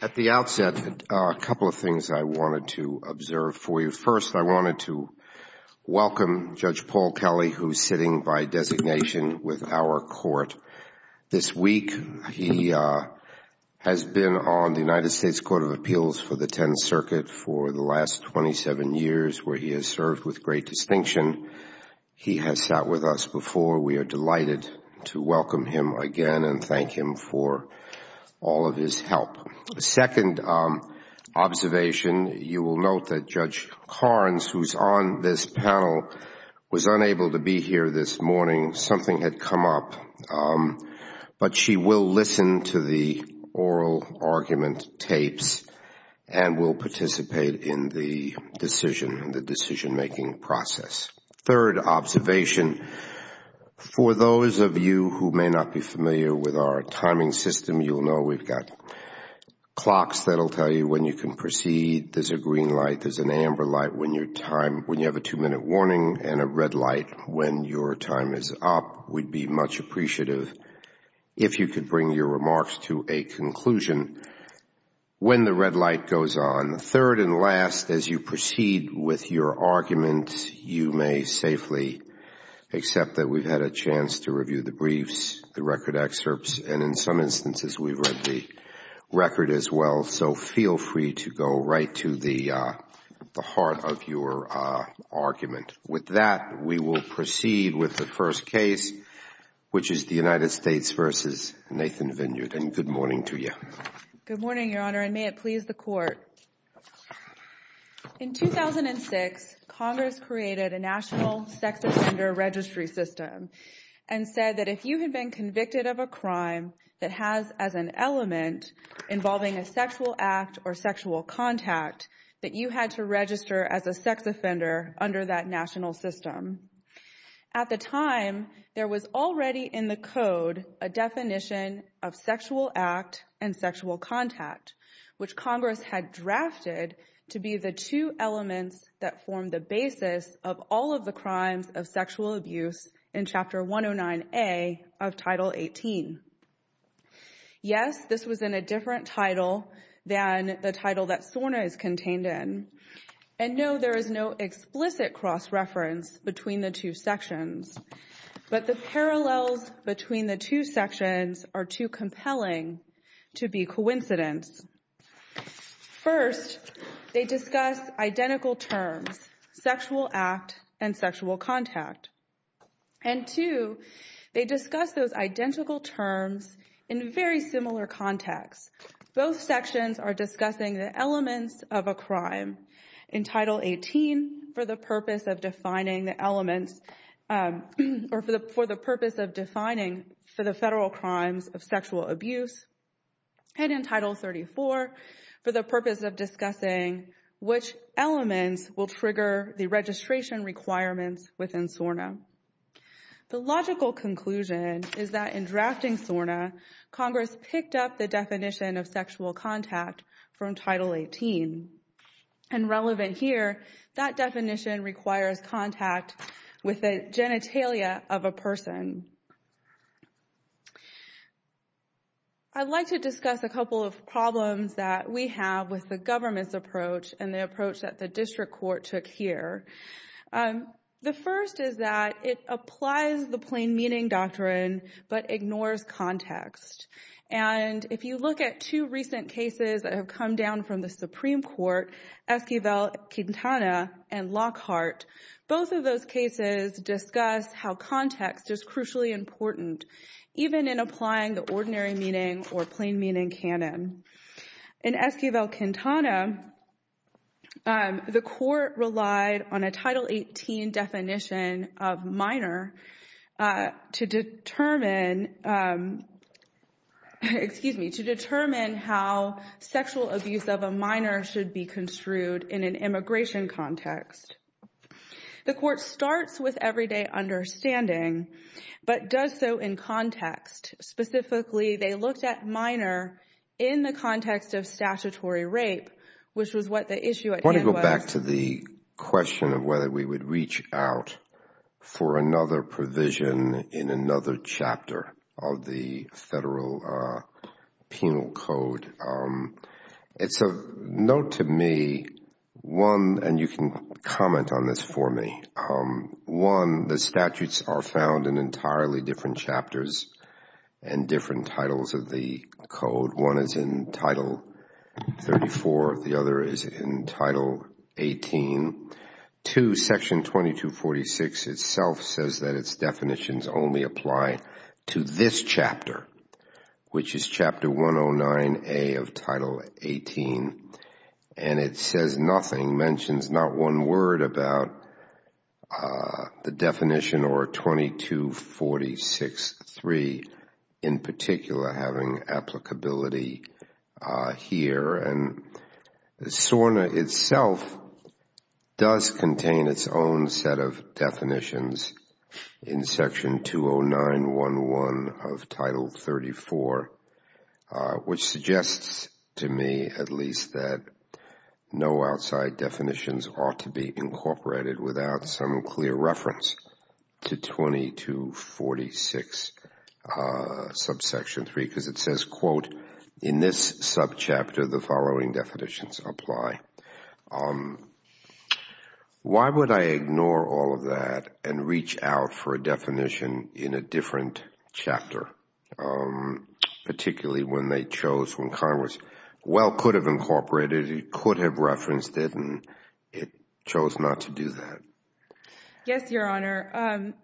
At the outset, a couple of things I wanted to observe for you. First, I wanted to welcome Judge Paul Kelly, who is sitting by designation with our court. This week, he has been on the United States Court of Appeals for the Tenth Circuit for the last 27 years, where he has served with great distinction. He has sat with us before. We are delighted to welcome him again and thank him for all of his help. The second observation, you will note that Judge Carnes, who is on this panel, was unable to be here this morning. Something had come up, but she will listen to the oral argument tapes and will participate in the decision and the decision-making process. Third observation, for those of you who may not be familiar with our timing system, you will know we have got clocks that will tell you when you can proceed. There is a green light when you have a two-minute warning and a red light when your time is up. We would be much appreciative if you could bring your remarks to a conclusion when the red light goes on. Third and last, as you proceed with your argument, you may safely accept that we have had a chance to review the briefs, the record excerpts, and in some instances, we have read the record as well, so feel free to go right to the heart of your argument. With that, we will proceed with the first case, which is the United States v. Nathan Vinyard. Good morning to you. Good morning, Your Honor, and may it please the Court. In 2006, Congress created a national sex offender registry system and said that if you had been filing a sexual act or sexual contact, that you had to register as a sex offender under that national system. At the time, there was already in the Code a definition of sexual act and sexual contact, which Congress had drafted to be the two elements that formed the basis of all of the crimes of sexual abuse in Chapter 109A of Title 18. Yes, this was in a different title than the title that SORNA is contained in, and no, there is no explicit cross-reference between the two sections, but the parallels between the two sections are too compelling to be coincidence. First, they discuss identical terms, sexual act and sexual contact, and two, they discuss those identical terms in very similar contexts. Both sections are discussing the elements of a crime in Title 18 for the purpose of defining the elements or for the purpose of defining for the federal crimes of sexual abuse, and in Title 34 for the purpose of discussing which elements will trigger the registration requirements within SORNA. The logical conclusion is that in drafting SORNA, Congress picked up the definition of sexual contact from Title 18, and relevant here, that definition requires contact with the genitalia of a person. I'd like to discuss a couple of problems that we have with the government's approach and the approach that the District Court took here. The first is that it applies the plain meaning doctrine, but ignores context, and if you look at two recent cases that have come down from the Supreme Court, Esquivel-Quintana and Lockhart, both of those cases discuss how context is crucially important, even in applying the ordinary meaning or plain meaning canon. In Esquivel-Quintana, the court relied on a Title 18 definition of minor to determine how sexual abuse of a minor should be construed in an immigration context. The court starts with everyday understanding, but does so in context. Specifically, they looked at minor in the context of statutory rape, which was what the issue at hand was. I want to go back to the question of whether we would reach out for another provision in another chapter of the federal penal code. It's of note to me, and you can comment on this for me. One, the statutes are found in entirely different chapters and different titles of the code. One is in Title 34, the other is in Title 18. Two, Section 2246 itself says that its definitions only apply to this chapter, which is Chapter 109A of Title 18, and it says nothing, mentions not one word about the definition or 2246.3 in particular having applicability here. SORNA itself does contain its own set of definitions in Section 20911 of Title 34, which suggests to me at least that no outside definitions ought to be incorporated without some clear reference to 2246.3 because it says, quote, in this subchapter the following definitions apply. Why would I ignore all of that and reach out for a definition in a different chapter, particularly when they chose, when Congress, well, could have incorporated it, could have referenced it, and it chose not to do that? Yes, Your Honor.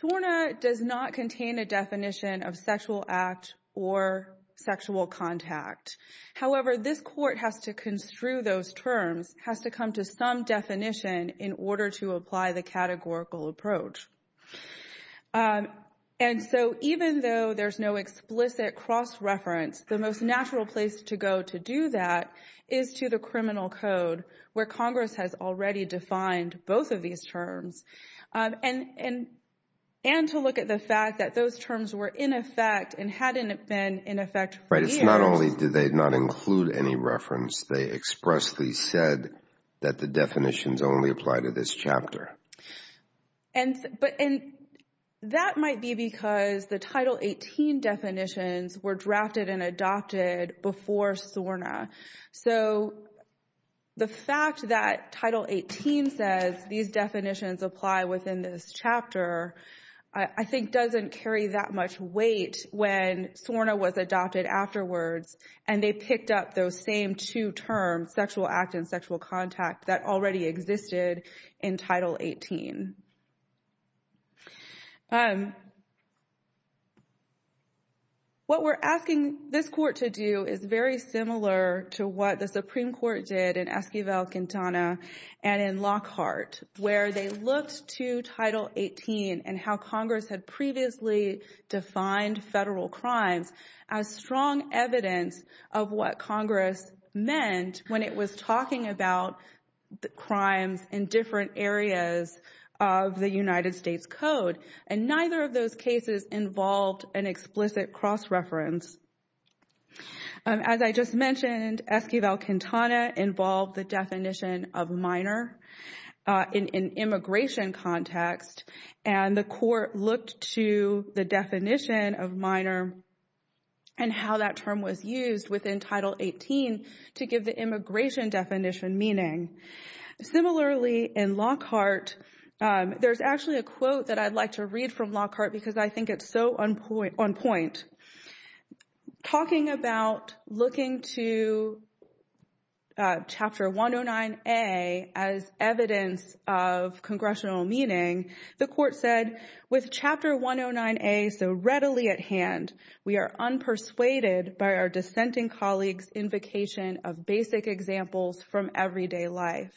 SORNA does not contain a definition of sexual act or sexual contact. However, this Court has to construe those terms, has to come to some definition in order to apply the categorical approach. And so even though there's no explicit cross-reference, the most natural place to go to do that is to the criminal code, where Congress has already defined both of these terms, and to look at the fact that those terms were in effect and hadn't been in effect for years. Right, it's not only did they not include any reference, they expressly said that the definitions only apply to this chapter. And that might be because the Title 18 definitions were drafted and adopted before SORNA. So the fact that Title 18 says these definitions apply within this chapter, I think doesn't carry that much weight when SORNA was adopted afterwards, and they picked up those same two terms, sexual act and sexual contact, that already existed in Title 18. What we're asking this Court to do is very similar to what the Supreme Court did in Esquivel-Quintana and in Lockhart, where they looked to Title 18 and how Congress had previously defined federal crimes as strong evidence of what Congress meant when it was talking about crimes in different areas of the United States Code. And neither of those cases involved an explicit cross-reference. As I just mentioned, Esquivel-Quintana involved the definition of minor in an immigration context, and the Court looked to the definition of minor and how that term was used within Title 18 to give the immigration definition meaning. Similarly, in Lockhart, there's actually a quote that I'd like to read from Lockhart because I think it's so on point. Talking about looking to Chapter 109A as evidence of congressional meaning, the Court said, with Chapter 109A so readily at hand, we are unpersuaded by our dissenting colleagues' invocation of basic examples from everyday life.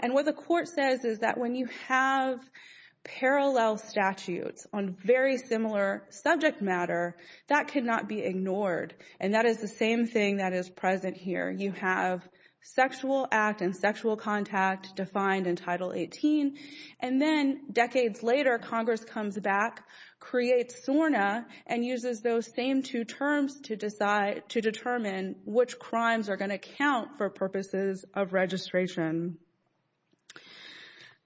And what the Court says is that when you have parallel statutes on very similar subject matter, that cannot be ignored. And that is the same thing that is present here. You have sexual act and sexual contact defined in Title 18. And then decades later, Congress comes back, creates SORNA, and uses those same two terms to determine which crimes are going to count for purposes of registration.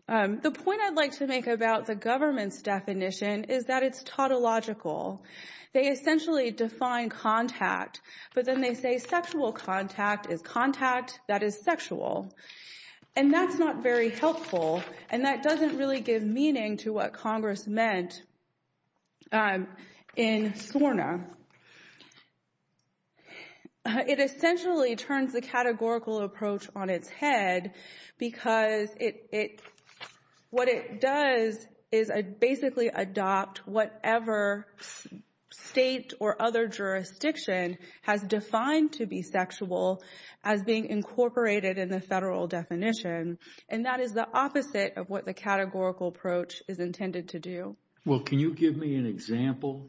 The point I'd like to make about the government's definition is that it's tautological. They essentially define contact, but then they say sexual contact is contact that is sexual. And that's not very helpful, and that doesn't really give meaning to what Congress meant in SORNA. It essentially turns the categorical approach on its head because what it does is basically adopt whatever state or other jurisdiction has defined to be sexual as being incorporated in the federal definition. And that is the opposite of what the categorical approach is intended to do. Well, can you give me an example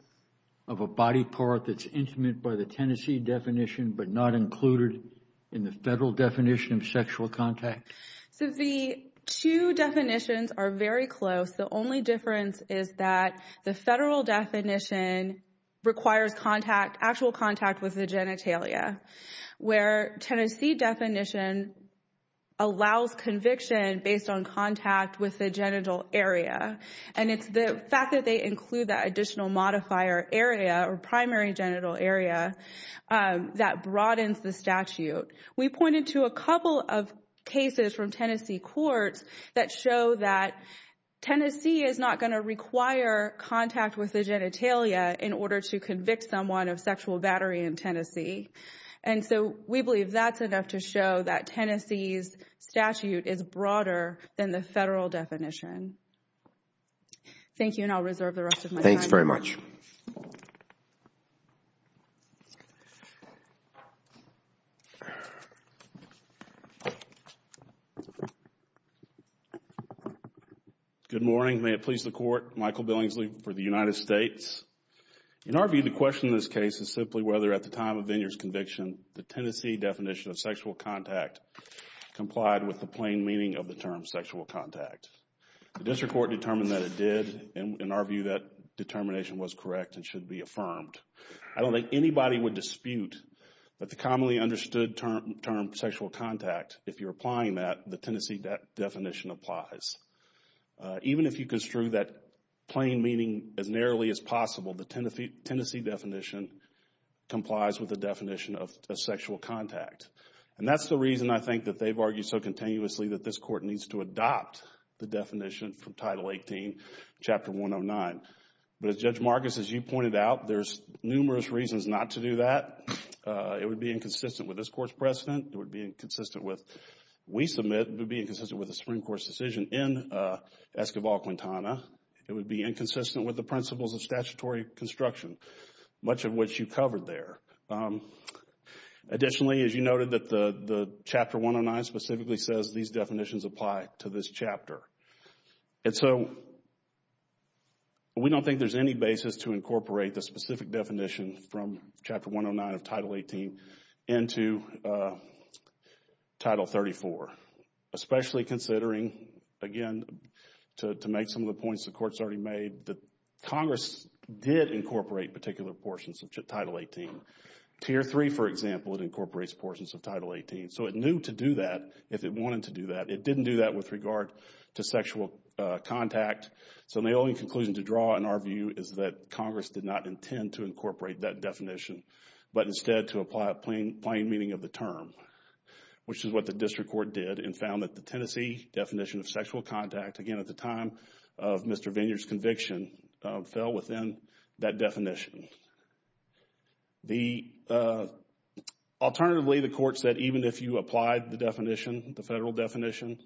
of a body part that's intimate by the Tennessee definition but not included in the federal definition of sexual contact? So the two definitions are very close. The only difference is that the federal definition requires actual contact with the genitalia, where Tennessee definition allows conviction based on contact with the genital area. And it's the fact that they include that additional modifier area or primary genital area that broadens the statute. We pointed to a couple of cases from Tennessee courts that show that Tennessee is not going to require contact with the genitalia in order to convict someone of sexual battery in that Tennessee's statute is broader than the federal definition. Thank you, and I'll reserve the rest of my time. Thanks very much. Good morning. May it please the Court. Michael Billingsley for the United States. In our view, the question in this case is simply whether at the time of Vineer's conviction, the Tennessee definition of sexual contact complied with the plain meaning of the term sexual contact. The district court determined that it did. In our view, that determination was correct and should be affirmed. I don't think anybody would dispute that the commonly understood term sexual contact, if you're applying that, the Tennessee definition applies. Even if you construe that plain meaning as narrowly as possible, the Tennessee definition complies with the definition of sexual contact. And that's the reason, I think, that they've argued so continuously that this Court needs to adopt the definition from Title 18, Chapter 109. But as Judge Marcus, as you pointed out, there's numerous reasons not to do that. It would be inconsistent with this Court's precedent. It would be inconsistent with, we submit, it would be inconsistent with the Supreme Court's decision in Escobar-Quintana. It would be inconsistent with the principles of statutory construction, much of which you covered there. Additionally, as you noted, that the Chapter 109 specifically says these definitions apply to this chapter. And so, we don't think there's any basis to incorporate the specific definition from Chapter 109 of Title 18 into Title 34, especially considering, again, to make some of the points the Court's already made, that Congress did incorporate particular portions of Title 18. Tier 3, for example, it incorporates portions of Title 18. So, it knew to do that if it wanted to do that. It didn't do that with regard to sexual contact. So, the only conclusion to draw, in our view, is that Congress did not intend to incorporate that definition, but instead to apply a plain meaning of the term, which is what the District Court did and found that the Tennessee definition of sexual contact, again, at the time of Mr. Vineyard's conviction, fell within that definition. Alternatively, the Court said even if you applied the definition, the federal definition,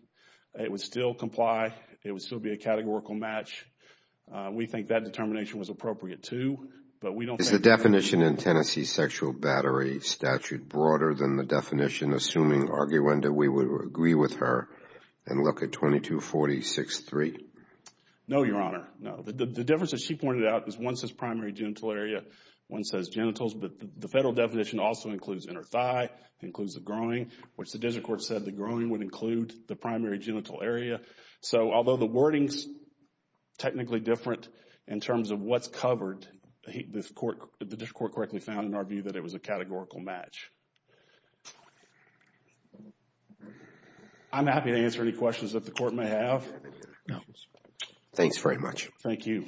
it would still comply. It would still be a categorical match. We think that determination was appropriate, too, but we don't think that... broader than the definition, assuming, arguendo, we would agree with her and look at 2246-3. No, Your Honor. No. The difference that she pointed out is one says primary genital area, one says genitals, but the federal definition also includes inner thigh, includes the groin, which the District Court said the groin would include the primary genital area. So, although the wording's technically different in terms of what's covered, the District Court correctly found, in our view, that it was a categorical match. I'm happy to answer any questions that the Court may have. No. Thanks very much. Thank you.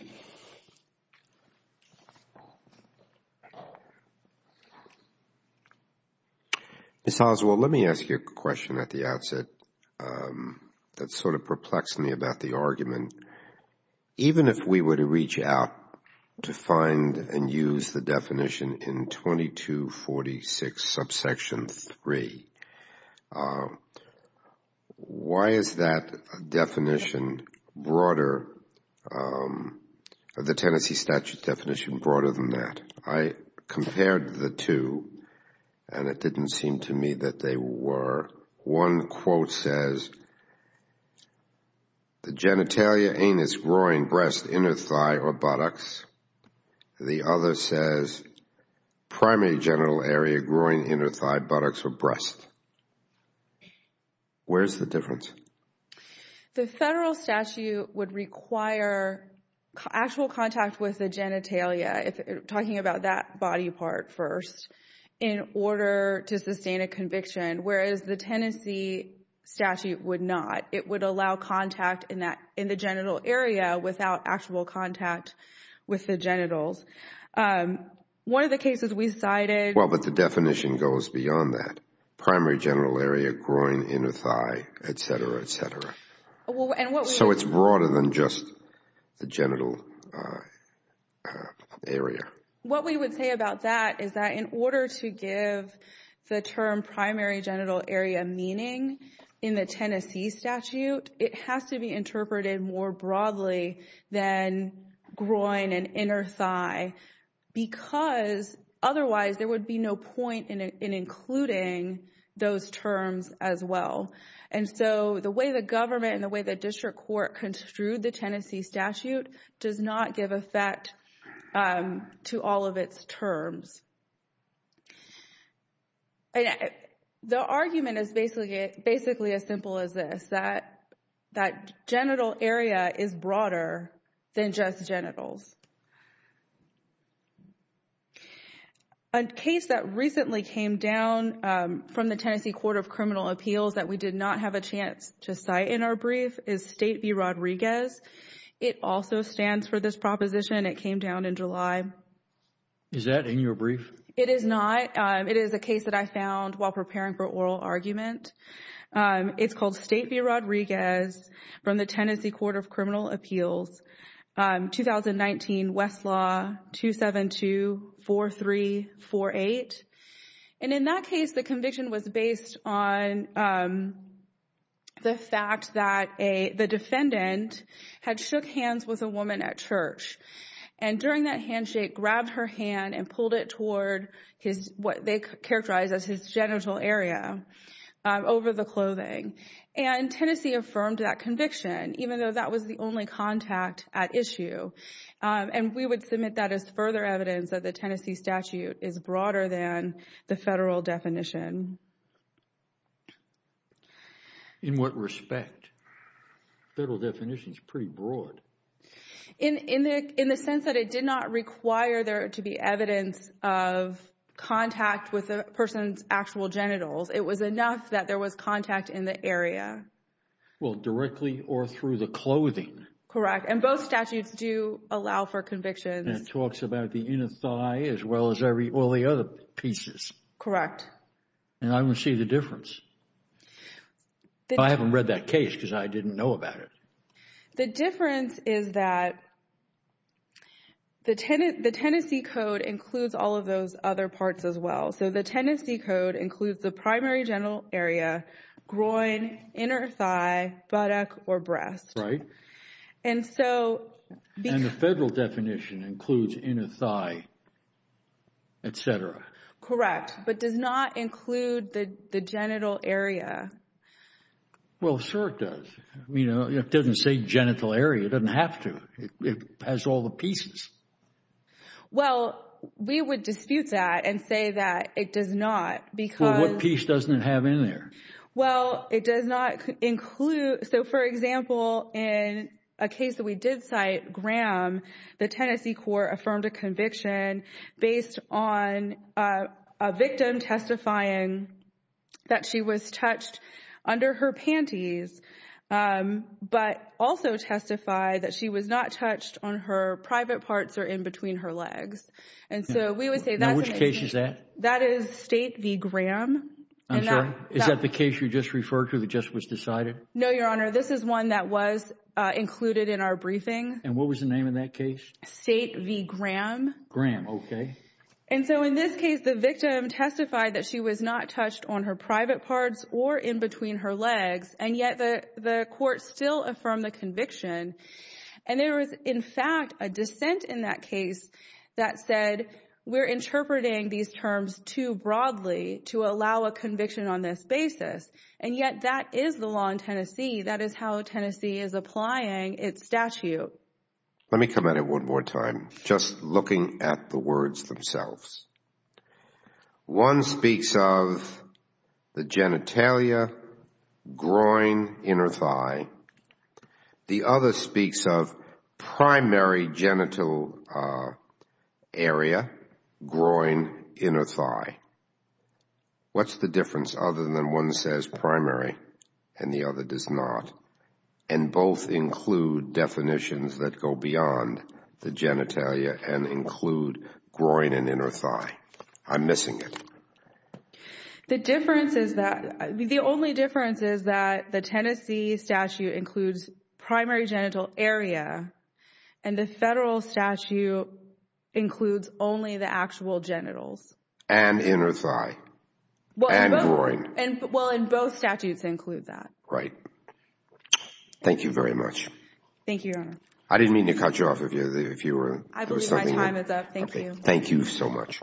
Ms. Oswald, let me ask you a question at the outset that sort of perplexed me about the argument. Even if we were to reach out to find and use the definition in 2246 subsection 3, why is that definition broader, the Tennessee statute definition broader than that? I compared the two and it didn't seem to me that they were. One quote says the genitalia, anus, groin, breast, inner thigh, or buttocks. The other says primary genital area, groin, inner thigh, buttocks, or breast. Where's the difference? The federal statute would require actual contact with the genitalia, talking about that body part first, in order to sustain a conviction. Whereas the Tennessee statute would not. It would allow contact in the genital area without actual contact with the genitals. One of the cases we cited... Well, but the definition goes beyond that. Primary genital area, groin, inner thigh, et cetera, et cetera. So it's broader than just the genital area. What we would say about that is that in order to give the term primary genital area meaning in the Tennessee statute, it has to be interpreted more broadly than groin and inner thigh. Because otherwise there would be no point in including those terms as well. And so the way the government and the way the district court construed the Tennessee statute does not give effect to all of its terms. The argument is basically as simple as this. That genital area is broader than just genitals. A case that recently came down from the Tennessee Court of Criminal Appeals that we did not have a chance to cite in our brief is State v. Rodriguez. It also stands for this proposition. It came down in July. Is that in your brief? It is not. It is a case that I found while preparing for oral argument. It's called State v. Rodriguez from the Tennessee Court of Criminal Appeals. 2019 Westlaw 2724348. And in that case the conviction was based on the fact that the defendant had shook hands with a woman at church. And during that handshake grabbed her hand and pulled it toward what they characterized as his genital area over the clothing. And Tennessee affirmed that conviction even though that was the only contact at issue. And we would submit that as further evidence that the Tennessee statute is broader than the federal definition. In what respect? Federal definition is pretty broad. In the sense that it did not require there to be evidence of contact with the person's actual genitals. It was enough that there was contact in the area. Well, directly or through the clothing. Correct. And both statutes do allow for convictions. And it talks about the inner thigh as well as all the other pieces. Correct. And I don't see the difference. I haven't read that case because I didn't know about it. The difference is that the Tennessee Code includes all of those other parts as well. So the Tennessee Code includes the primary genital area, groin, inner thigh, buttock, or breast. Right. And the federal definition includes inner thigh, etc. Correct. But does not include the genital area. Well, sure it does. It doesn't say genital area. It doesn't have to. It has all the pieces. Well, we would dispute that and say that it does not because Well, what piece doesn't it have in there? Well, it does not include. So, for example, in a case that we did cite, Graham, the Tennessee court affirmed a conviction based on a victim testifying that she was touched under her panties, but also testified that she was not touched on her private parts or in between her legs. And so we would say that Now, which case is that? That is State v. Graham. I'm sorry. Is that the case you just referred to that just was decided? No, Your Honor. This is one that was included in our briefing. And what was the name of that case? State v. Graham. Graham. Okay. And so in this case, the victim testified that she was not touched on her private parts or in between her legs. And yet the court still affirmed the conviction. And there was, in fact, a dissent in that case that said, we're interpreting these terms too broadly to allow a conviction on this basis. And yet that is the law in Tennessee. That is how Tennessee is applying its statute. Let me come at it one more time, just looking at the words themselves. One speaks of the genitalia, groin, inner thigh. The other speaks of primary genital area, groin, inner thigh. What's the difference other than one says primary and the other does not? And both include definitions that go beyond the genitalia and include groin and inner thigh. I'm missing it. The only difference is that the Tennessee statute includes primary genital area and the federal statute includes only the actual genitals. And inner thigh. And groin. Well, both statutes include that. Right. Thank you very much. Thank you, Your Honor. I didn't mean to cut you off. I believe my time is up. Thank you. Thank you so much.